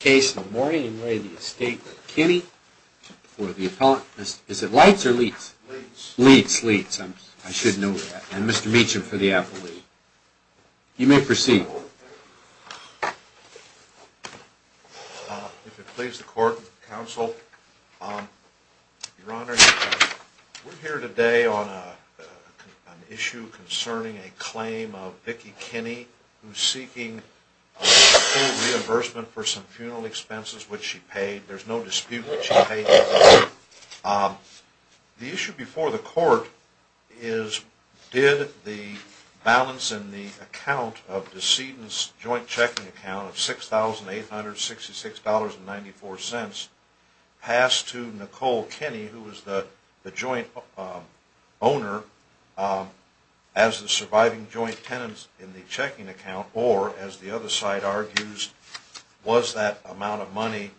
for the appellant. Is it Leitz or Leitz? Leitz. Leitz. I should know that. And Mr. Meacham for the appellate. You may proceed. If it pleases the court and counsel, Your Honor, we're here today on an issue concerning a claim of Vicki Kinney who's seeking full reimbursement for some funeral expenses which she paid. There's no dispute that she paid. The issue before the court is did the balance in the account of Deceden's joint checking account of $6,866.94 pass to Nicole Kinney who was the joint owner as the surviving joint tenant in the checking account or, as the other side argues, was that amount of money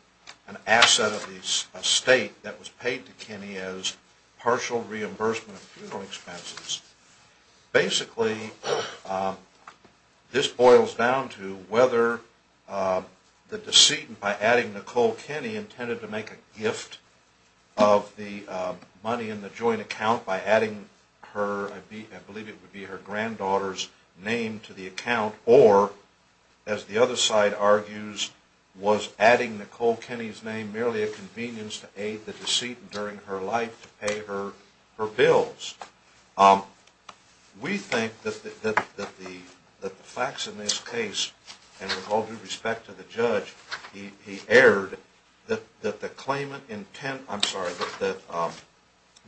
an asset of the estate that was paid to Kinney as partial reimbursement of funeral expenses? Basically, this boils down to whether the Deceden, by adding Nicole Kinney, intended to make a gift of the money in the joint account by adding her, I believe it would be her granddaughter's name to the account or, as the other side argues, was adding Nicole Kinney's name merely a convenience to aid the Deceden during her life to pay her bills. We think that the facts in this case, and with all due respect to the judge, he erred, that the claimant intent, I'm sorry, that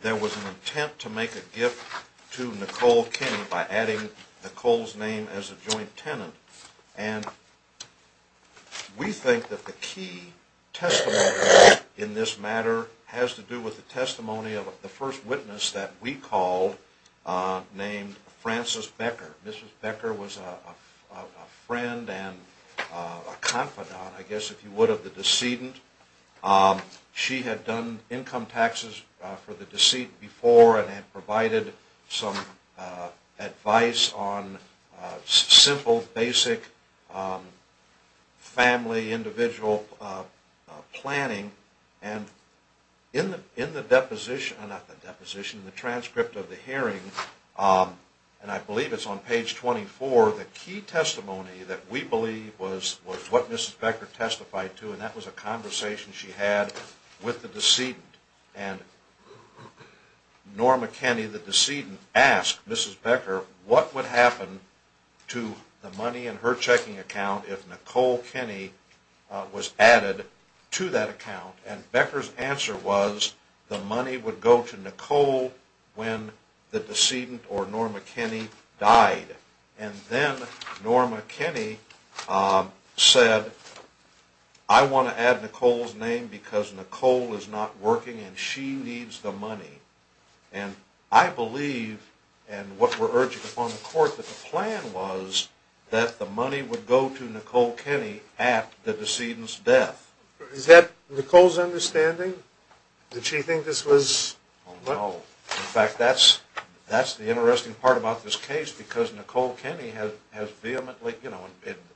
there was an intent to make a gift to Nicole Kinney by adding Nicole's name as a joint tenant. And we think that the key testimony in this matter has to do with the testimony of the first witness that we called named Frances Becker. Mrs. Becker was a friend and a confidant, I guess if you would, of the Deceden. She had done income taxes for the Deceden before and had provided some advice on simple, basic family, individual planning. And in the deposition, not the deposition, the transcript of the hearing, and I believe it's on page 24, the key testimony that we believe was what Mrs. Becker testified to and that was a conversation she had with the Deceden. And Norma Kinney, the Deceden, asked Mrs. Becker what would happen to the money in her checking account if Nicole Kinney was added to that account. And Becker's answer was the money would go to Nicole when the Deceden, or Norma Kinney, died. And then Norma Kinney said, I want to add Nicole's name because Nicole is not working and she needs the money. And I believe, and what we're urging upon the court, that the plan was that the money would go to Nicole Kinney at the Deceden's death. Is that Nicole's understanding? Did she think this was... No. In fact, that's the interesting part about this case because Nicole Kinney has vehemently, you know,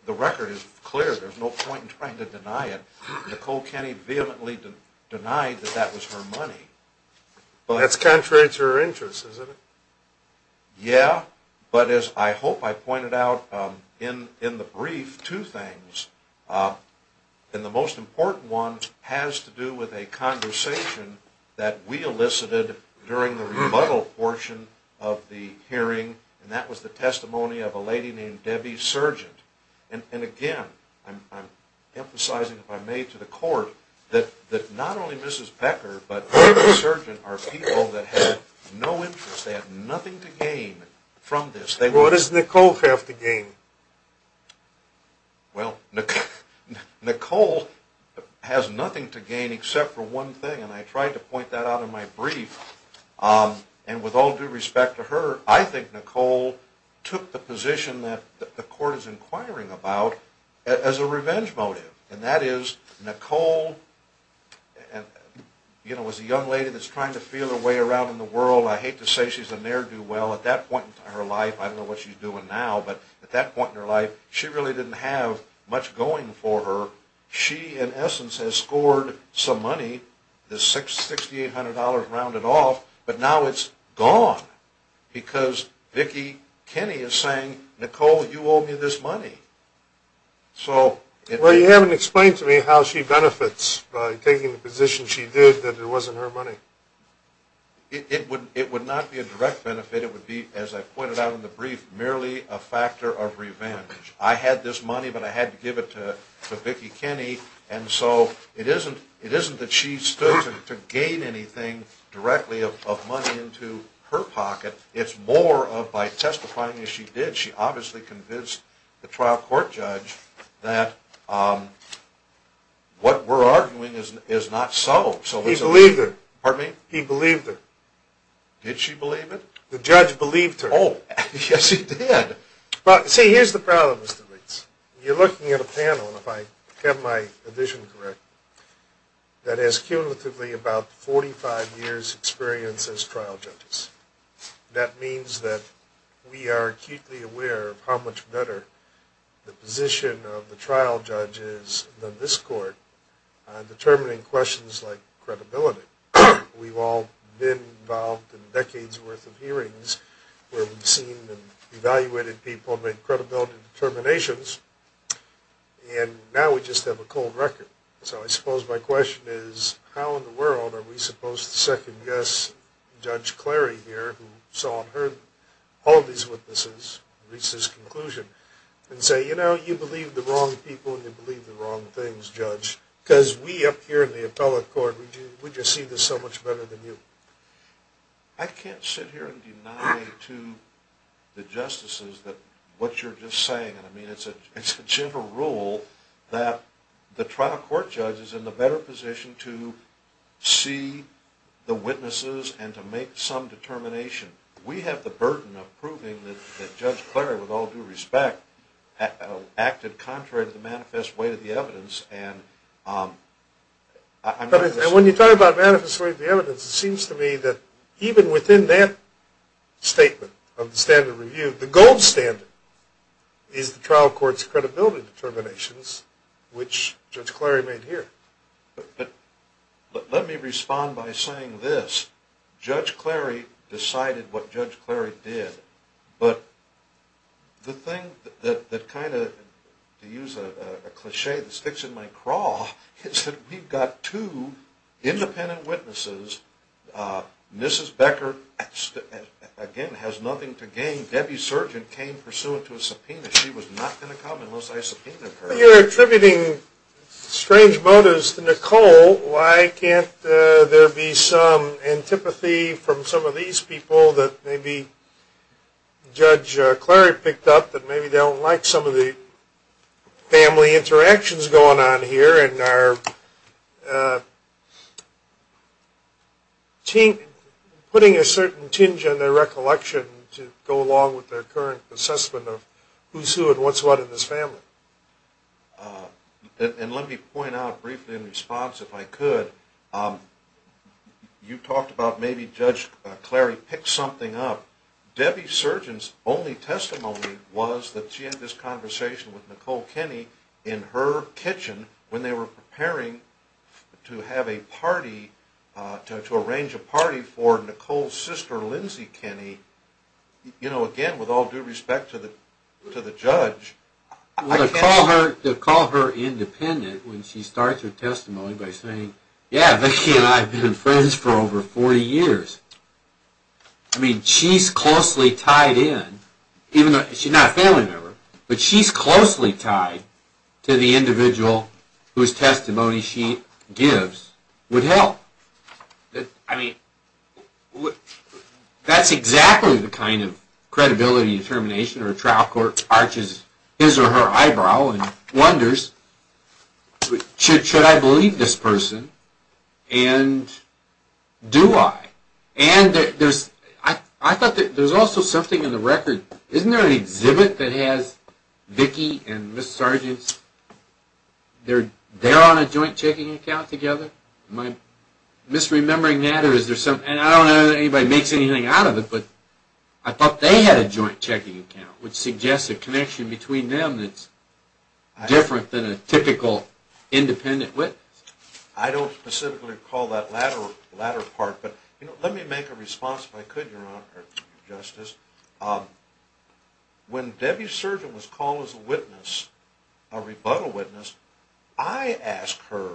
the record is clear. There's no point in trying to deny it. Nicole Kinney vehemently denied that that was her money. Well, that's contrary to her interests, isn't it? Yeah, but as I hope I pointed out in the brief, two things. And the most important one has to do with a conversation that we elicited during the rebuttal portion of the hearing, and that was the testimony of a lady named Debbie Surgent. And again, I'm emphasizing, if I may, to the court, that not only Mrs. Becker, but Debbie Surgent are people that have no interest, they have nothing to gain from this. What does Nicole have to gain? Well, Nicole has nothing to gain except for one thing, and I tried to point that out in my brief. And with all due respect to her, I think Nicole took the position that the court is inquiring about as a revenge motive. And that is, Nicole, you know, was a young lady that's trying to feel her way around in the world. I hate to say she's a ne'er-do-well. At that point in her life, I don't know what she's doing now, but at that point in her life, she really didn't have much going for her. She, in essence, has scored some money, this $6,800 rounded off, but now it's gone because Vicki Kinney is saying, Nicole, you owe me this money. Well, you haven't explained to me how she benefits by taking the position she did that it wasn't her money. It would not be a direct benefit. It would be, as I pointed out in the brief, merely a factor of revenge. I had this money, but I had to give it to Vicki Kinney. And so it isn't that she stood to gain anything directly of money into her pocket. It's more of, by testifying as she did, she obviously convinced the trial court judge that what we're arguing is not so. He believed her. Pardon me? He believed her. Did she believe it? The judge believed her. Oh, yes, he did. See, here's the problem, Mr. Leitz. You're looking at a panel, if I have my vision correct, that has cumulatively about 45 years' experience as trial judges. That means that we are acutely aware of how much better the position of the trial judge is than this court in determining questions like credibility. We've all been involved in decades' worth of hearings where we've seen and evaluated people make credibility determinations, and now we just have a cold record. So I suppose my question is, how in the world are we supposed to second-guess Judge Clary here, who saw and heard all of these witnesses and reached this conclusion, and say, you know, you believe the wrong people and you believe the wrong things, Judge, because we up here in the appellate court, we just see this so much better than you? I can't sit here and deny to the justices what you're just saying. I mean, it's a general rule that the trial court judge is in the better position to see the witnesses and to make some determination. We have the burden of proving that Judge Clary, with all due respect, acted contrary to the manifest weight of the evidence. And when you talk about manifest weight of the evidence, it seems to me that even within that statement of the standard review, the gold standard is the trial court's credibility determinations, which Judge Clary made here. But let me respond by saying this. Judge Clary decided what Judge Clary did. But the thing that kind of, to use a cliché that sticks in my craw, is that we've got two independent witnesses. Mrs. Becker, again, has nothing to gain. Debbie Surgeon came pursuant to a subpoena. She was not going to come unless I subpoenaed her. Well, you're attributing strange motives to Nicole. Why can't there be some antipathy from some of these people that maybe Judge Clary picked up, that maybe they don't like some of the family interactions going on here and are putting a certain tinge on their recollection to go along with their current assessment of who's who and what's what in this family? And let me point out briefly in response, if I could, you talked about maybe Judge Clary picked something up. Debbie Surgeon's only testimony was that she had this conversation with Nicole Kenny in her kitchen when they were preparing to have a party, to arrange a party for Nicole's sister, Lindsay Kenny. You know, again, with all due respect to the judge, I can't... Well, to call her independent when she starts her testimony by saying, yeah, Vicki and I have been friends for over 40 years, I mean, she's closely tied in, even though she's not a family member, but she's closely tied to the individual whose testimony she gives would help. I mean, that's exactly the kind of credibility determination or trial court arches his or her eyebrow and wonders, should I believe this person and do I? And I thought that there's also something in the record. Isn't there an exhibit that has Vicki and Ms. Surgeon, they're on a joint checking account together? Am I misremembering that or is there something? And I don't know that anybody makes anything out of it, but I thought they had a joint checking account, which suggests a connection between them that's different than a typical independent witness. I don't specifically recall that latter part, but let me make a response if I could, Your Honor or Justice. When Debbie Surgeon was called as a witness, a rebuttal witness, I asked her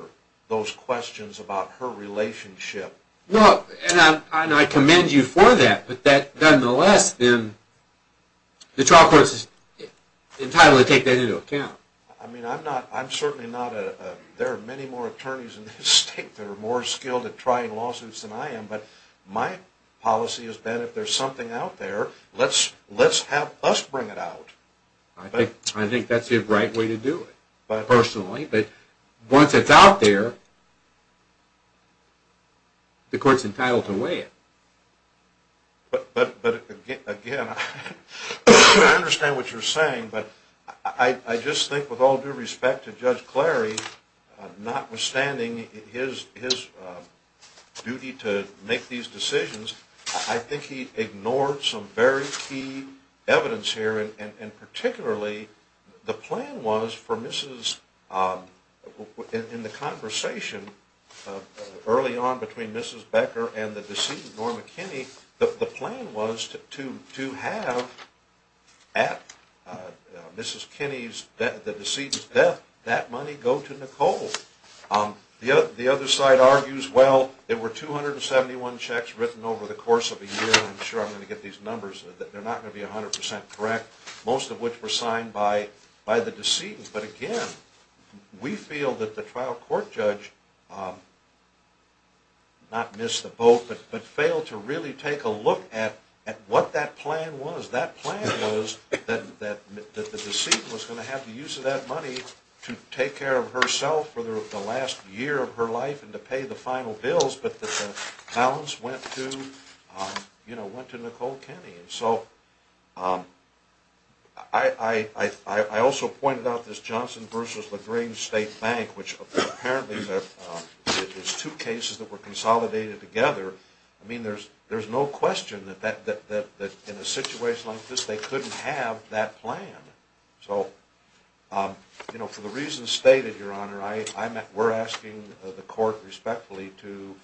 those questions about her relationship. No, and I commend you for that, but that, nonetheless, then the trial court is entitled to take that into account. I mean, I'm certainly not a – there are many more attorneys in this state that are more skilled at trying lawsuits than I am, but my policy has been if there's something out there, let's have us bring it out. I think that's the right way to do it, personally, but once it's out there, the court's entitled to weigh it. But, again, I understand what you're saying, but I just think with all due respect to Judge Clary, notwithstanding his duty to make these decisions, I think he ignored some very key evidence here, and particularly the plan was for Mrs. – in the conversation early on between Mrs. Becker and the decedent, Norma Kinney, the plan was to have at Mrs. Kinney's – the decedent's death, that money go to Nicole. The other side argues, well, there were 271 checks written over the course of a year. I'm sure I'm going to get these numbers. They're not going to be 100 percent correct, most of which were signed by the decedent. But, again, we feel that the trial court judge not missed the boat but failed to really take a look at what that plan was. That plan was that the decedent was going to have the use of that money to take care of herself for the last year of her life and to pay the final bills, but that the balance went to Nicole Kinney. So, I also pointed out this Johnson v. LaGrange State Bank, which apparently is two cases that were consolidated together. I mean, there's no question that in a situation like this, they couldn't have that plan. So, for the reasons stated, Your Honor, we're asking the court respectfully to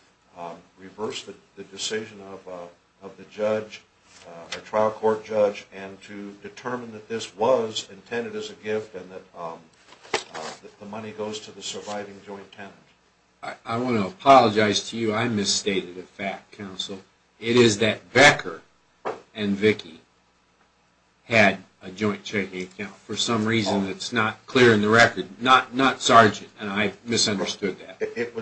reverse the decision of the trial court judge and to determine that this was intended as a gift and that the money goes to the surviving joint tenant. I want to apologize to you. I misstated a fact, counsel. It is that Becker and Vicki had a joint checking account. For some reason, it's not clear in the record. Not Sargent, and I misunderstood that.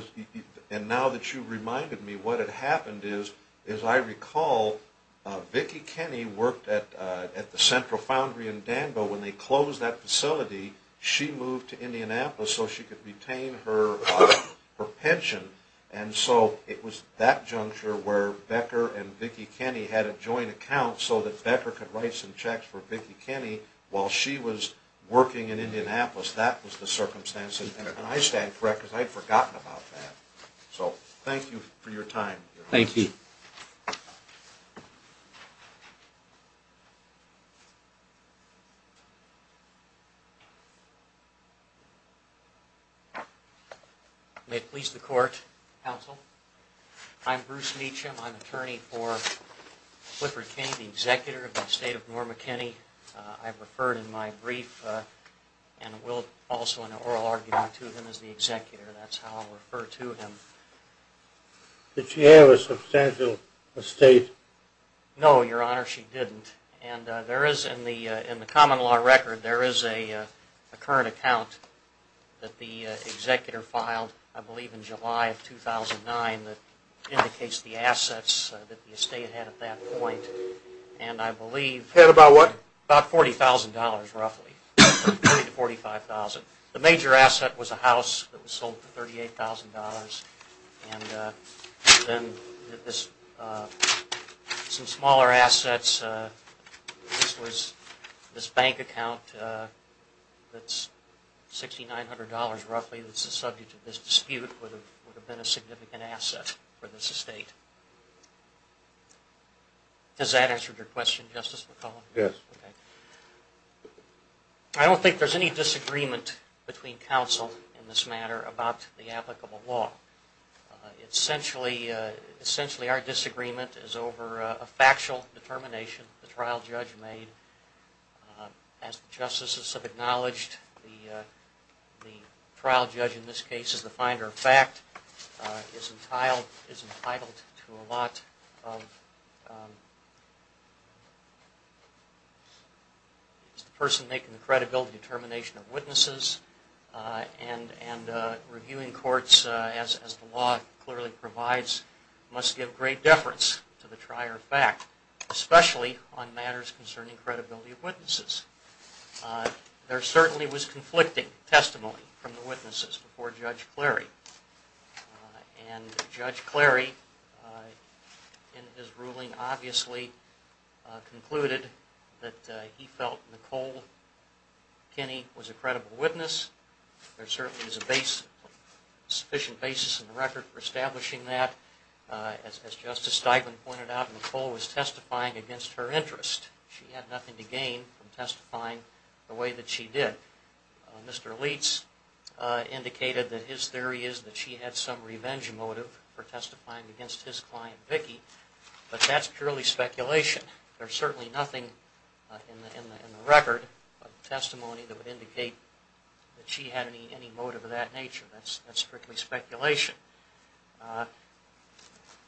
And now that you've reminded me, what had happened is, as I recall, Vicki Kinney worked at the Central Foundry in Danville. When they closed that facility, she moved to Indianapolis so she could retain her pension. And so, it was that juncture where Becker and Vicki Kinney had a joint account so that Becker could write some checks for Vicki Kinney while she was working in Indianapolis. That was the circumstance. And I stand corrected. I'd forgotten about that. So, thank you for your time, Your Honor. Thank you. May it please the court, counsel. I'm Bruce Meacham. I'm attorney for Clifford Kinney, the executor of the estate of Norma Kinney. I've referred in my brief and will also in an oral argument to him as the executor. That's how I'll refer to him. Did she have a substantial estate? No, Your Honor, she didn't. And there is, in the common law record, there is a current account that the executor filed, I believe, in July of 2009 that indicates the assets that the estate had at that point. And I believe... Had about what? About $40,000 roughly, $40,000 to $45,000. The major asset was a house that was sold for $38,000. And then some smaller assets, this bank account that's $6,900 roughly that's the subject of this dispute would have been a significant asset for this estate. Has that answered your question, Justice McCollum? Yes. Okay. I don't think there's any disagreement between counsel in this matter about the applicable law. Essentially, our disagreement is over a factual determination the trial judge made. As the justices have acknowledged, the trial judge in this case is the finder of fact, is entitled to a lot of... is the person making the credibility determination of witnesses and reviewing courts as the law clearly provides must give great deference to the trier of fact, especially on matters concerning credibility of witnesses. There certainly was conflicting testimony from the witnesses before Judge Clary. And Judge Clary in his ruling obviously concluded that he felt Nicole Kinney was a credible witness. There certainly is a sufficient basis in the record for establishing that. As Justice Steigman pointed out, Nicole was testifying against her interest. She had nothing to gain from testifying the way that she did. Mr. Leitz indicated that his theory is that she had some revenge motive for testifying against his client, Vicki. But that's purely speculation. There's certainly nothing in the record of testimony that would indicate that she had any motive of that nature. That's strictly speculation.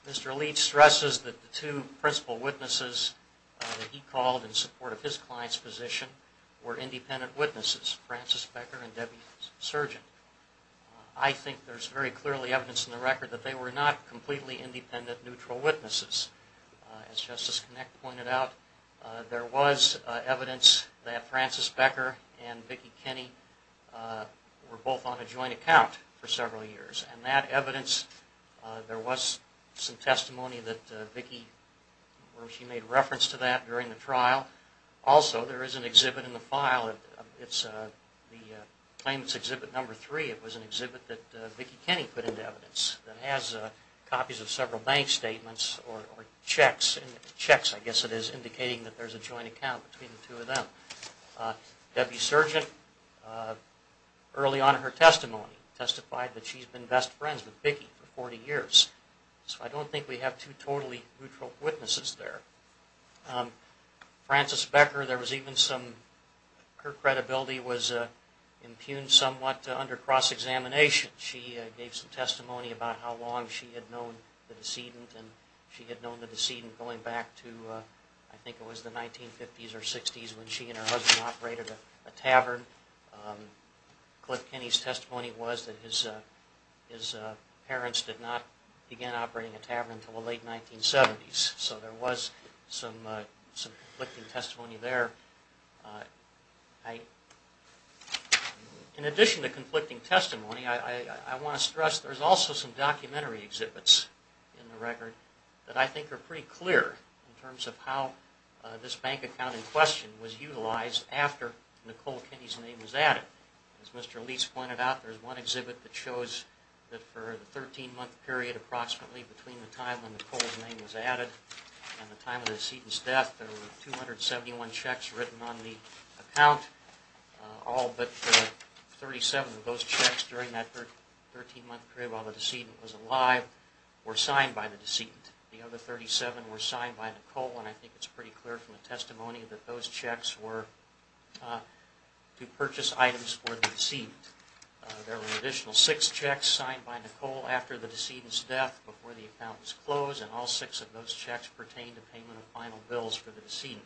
Mr. Leitz stresses that the two principal witnesses that he called in support of his client's position were independent witnesses, Francis Becker and Debbie Surgeon. I think there's very clearly evidence in the record that they were not completely independent, neutral witnesses. As Justice Knecht pointed out, there was evidence that Francis Becker and Vicki Kinney were both on a joint account for several years. And that evidence, there was some testimony that Vicki, where she made reference to that during the trial. Also, there is an exhibit in the file. It's the Claimant's Exhibit No. 3. It was an exhibit that Vicki Kinney put into evidence that has copies of several bank statements or checks. Checks, I guess it is, indicating that there's a joint account between the two of them. Debbie Surgeon, early on in her testimony, testified that she's been best friends with Vicki for 40 years. So I don't think we have two totally neutral witnesses there. Francis Becker, there was even some, her credibility was impugned somewhat under cross-examination. She gave some testimony about how long she had known the decedent. And she had known the decedent going back to, I think it was the 1950s or 60s when she and her husband operated a tavern. Cliff Kinney's testimony was that his parents did not begin operating a tavern until the late 1970s. So there was some conflicting testimony there. In addition to conflicting testimony, I want to stress there's also some documentary exhibits in the record that I think are pretty clear in terms of how this bank account in question was utilized after Nicole Kinney's name was added. As Mr. Leese pointed out, there's one exhibit that shows that for the 13-month period approximately between the time when Nicole's name was added and the time of the decedent's death, there were 271 checks written on the account. All but 37 of those checks during that 13-month period while the decedent was alive were signed by the decedent. The other 37 were signed by Nicole and I think it's pretty clear from the testimony that those checks were to purchase items for the decedent. There were an additional six checks signed by Nicole after the decedent's death before the account was closed and all six of those checks pertained to payment of final bills for the decedent.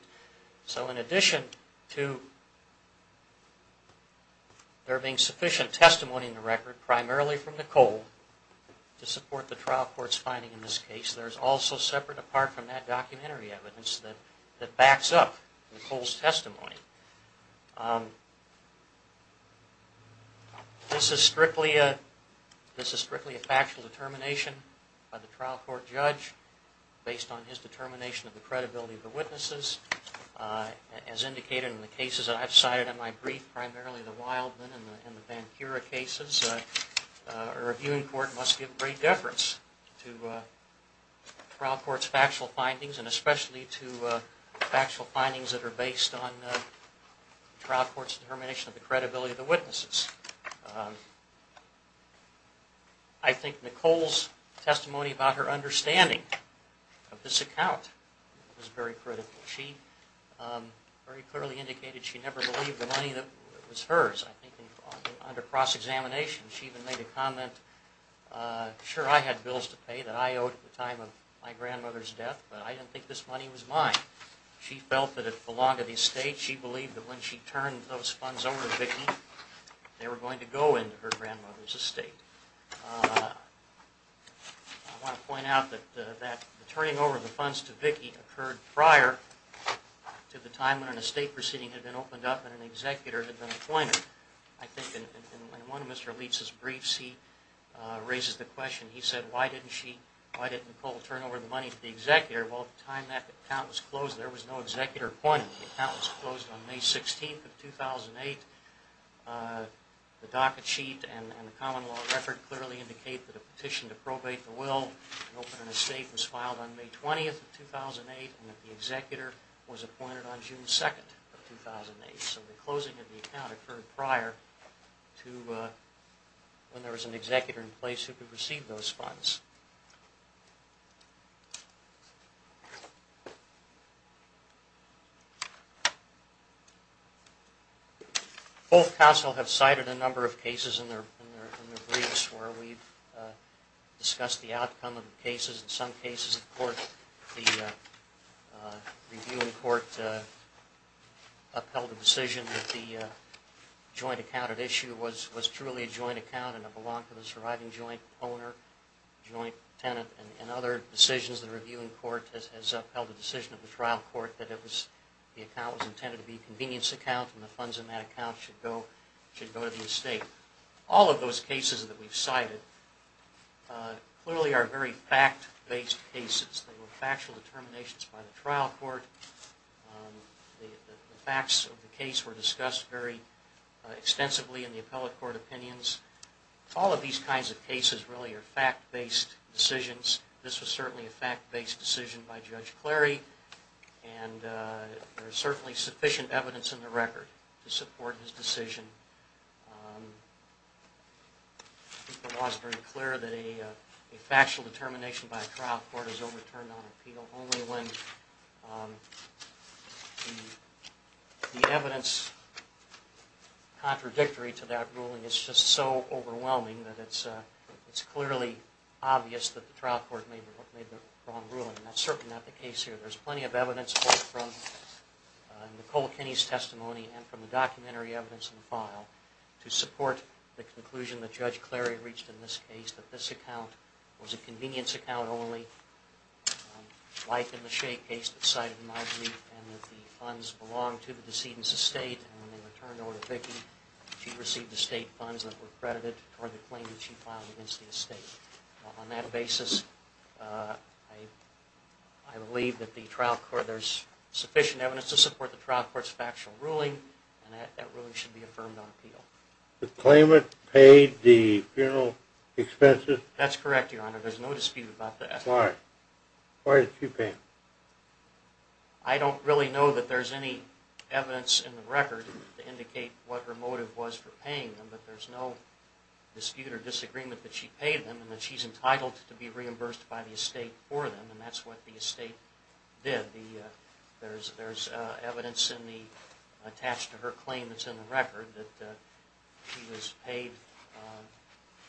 So in addition to there being sufficient testimony in the record, primarily from Nicole, to support the trial court's finding in this case, there's also separate apart from that documentary evidence that backs up Nicole's testimony. This is strictly a factual determination by the trial court judge based on his determination of the credibility of the witnesses. As indicated in the cases that I've cited in my brief, primarily the Wildman and the Vancura cases, a reviewing court must give great deference to trial court's factual findings and especially to factual findings that are based on trial court's determination of the credibility of the witnesses. I think Nicole's testimony about her understanding of this account is very critical. She very clearly indicated she never believed the money that was hers. I think under cross-examination she even made a comment, sure I had bills to pay that I owed at the time of my grandmother's death, but I didn't think this money was mine. She felt that it belonged to the estate. She believed that when she turned those funds over to Vicki, they were going to go into her grandmother's estate. I want to point out that the turning over of the funds to Vicki occurred prior to the time when an estate proceeding had been opened up and an executor had been appointed. I think in one of Mr. Leitz's briefs he raises the question, he said, why didn't Nicole turn over the money to the executor? Well, at the time that account was closed there was no executor appointed. The account was closed on May 16th of 2008. The docket sheet and the common law record clearly indicate that a petition to probate the will to open an estate was filed on May 20th of 2008 and that the executor was appointed on June 2nd of 2008. So the closing of the account occurred prior to when there was an executor in place who could receive those funds. Both counsel have cited a number of cases in their briefs where we've discussed the outcome of the cases. In some cases the review in court upheld the decision that the joint account at issue was truly a joint account and it belonged to the surviving joint owner, joint tenant. In other decisions the review in court has upheld the decision of the trial court that the account was intended to be a convenience account and the funds in that account should go to the estate. All of those cases that we've cited clearly are very fact-based cases. They were factual determinations by the trial court. The facts of the case were discussed very extensively in the appellate court opinions. All of these kinds of cases really are fact-based decisions. This was certainly a fact-based decision by Judge Clary and there is certainly sufficient evidence in the record to support his decision. The law is very clear that a factual determination by a trial court is overturned on appeal only when the evidence contradictory to that ruling is just so overwhelming that it's clearly obvious that the trial court made the wrong ruling. That's certainly not the case here. There's plenty of evidence both from Nicole Kinney's testimony and from the documentary evidence in the file to support the conclusion that Judge Clary reached in this case that this account was a convenience account only like in the Shea case that's cited in my brief and that the funds belonged to the decedent's estate and when they returned over to Vicki she received estate funds that were credited for the claim that she filed against the estate. On that basis, I believe that there's sufficient evidence to support the trial court's factual ruling and that ruling should be affirmed on appeal. The claimant paid the funeral expenses? That's correct, Your Honor. There's no dispute about that. Why? Why is she paying? I don't really know that there's any evidence in the record to indicate what her motive was for paying them but there's no dispute or disagreement that she paid them and that she's entitled to be reimbursed by the estate for them and that's what the estate did. There's evidence attached to her claim that's in the record that she was paid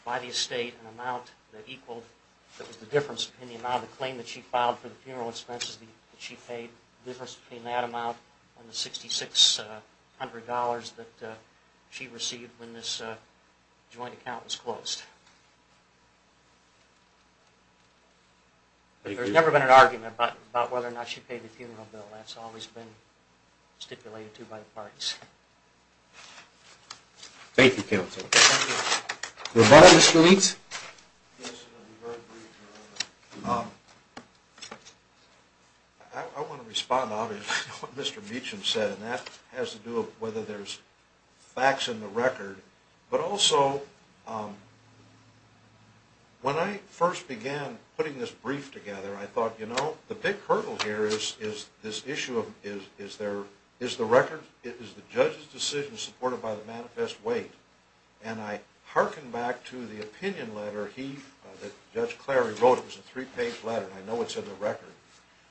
by the estate an amount that was the difference in the amount of the claim that she filed for the funeral expenses that she paid, the difference between that amount and the $6,600 that she received when this joint account was closed. There's never been an argument about whether or not she paid the funeral bill. That's always been stipulated to by the parties. Thank you, counsel. Your Honor, Mr. Leach? Yes, Your Honor. I want to respond to what Mr. Meacham said and that has to do with whether there's facts in the record but also when I first began putting this brief together I thought, you know, the big hurdle here is this issue of is the record, is the judge's decision supported by the manifest weight and I hearken back to the opinion letter that Judge Clary wrote. It was a three-page letter and I know it's in the record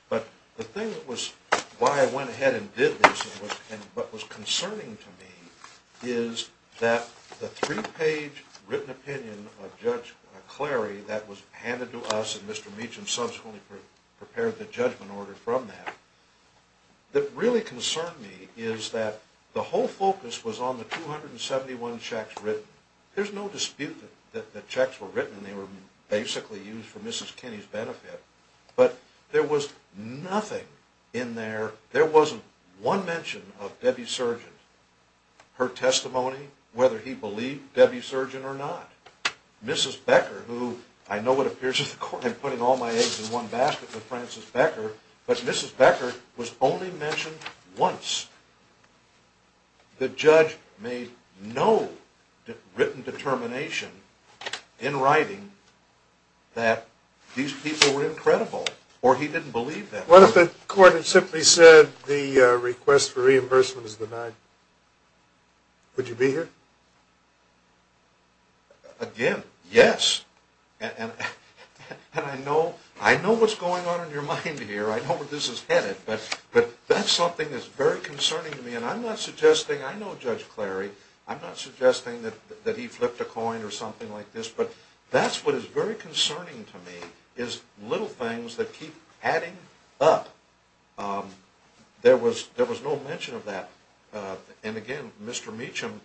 but the thing that was why I went ahead and did this and what was concerning to me is that the three-page written opinion of Judge Clary that was handed to us and Mr. Meacham subsequently prepared the judgment order from that that really concerned me is that the whole focus was on the 271 checks written. There's no dispute that the checks were written and they were basically used for Mrs. Kinney's benefit but there was nothing in there, there wasn't one mention of Debbie Surgeon. Her testimony, whether he believed Debbie Surgeon or not. Mrs. Becker, who I know it appears to the court I'm putting all my eggs in one basket with Frances Becker but Mrs. Becker was only mentioned once. The judge made no written determination in writing that these people were incredible or he didn't believe them. What if the court had simply said the request for reimbursement is denied? Would you be here? Again, yes. And I know what's going on in your mind here. I know where this is headed but that's something that's very concerning to me and I'm not suggesting, I know Judge Clary, I'm not suggesting that he flipped a coin or something like this but that's what is very concerning to me is little things that keep adding up. There was no mention of that. And again, Mr. Meacham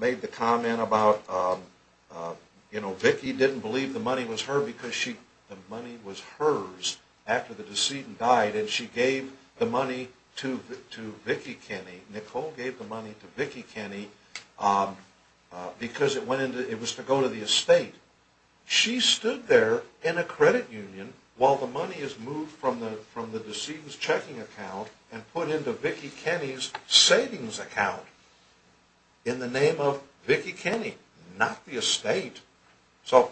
made the comment about, you know, Vicki didn't believe the money was hers after the decedent died and she gave the money to Vicki Kinney, Nicole gave the money to Vicki Kinney because it was to go to the estate. She stood there in a credit union while the money is moved from the decedent's checking account and put into Vicki Kinney's savings account in the name of Vicki Kinney, not the estate. So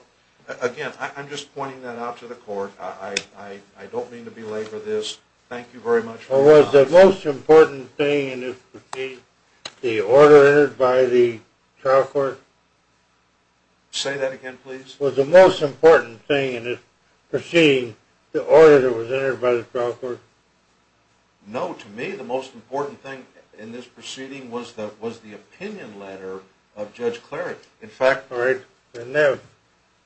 again, I'm just pointing that out to the court. I don't mean to belabor this. Thank you very much. Was the most important thing in this proceeding the order entered by the trial court? Say that again, please. Was the most important thing in this proceeding the order that was entered by the trial court? No, to me the most important thing in this proceeding was the opinion letter of Judge Clary. In fact, that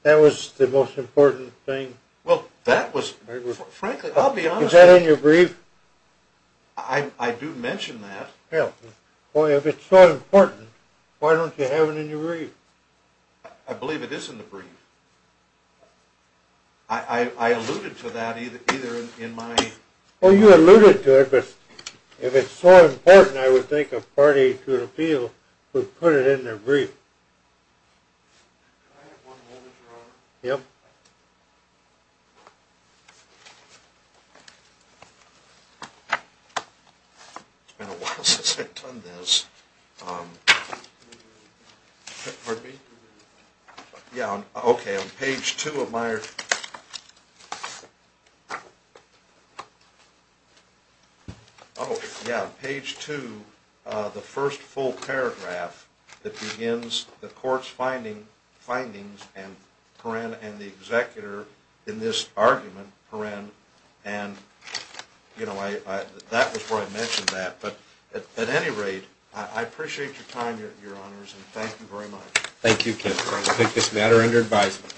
was the most important thing? I do mention that. I believe it is in the brief. I alluded to that either in my... It's been a while since I've done this. Pardon me? Yeah, okay, on page 2 of my... Oh, yeah, page 2, the first full paragraph that begins the court's findings and the executor in this argument and that was where I mentioned that, but at any rate, I appreciate your time, Your Honors, and thank you very much. Thank you, Ken. I take this matter under advisement.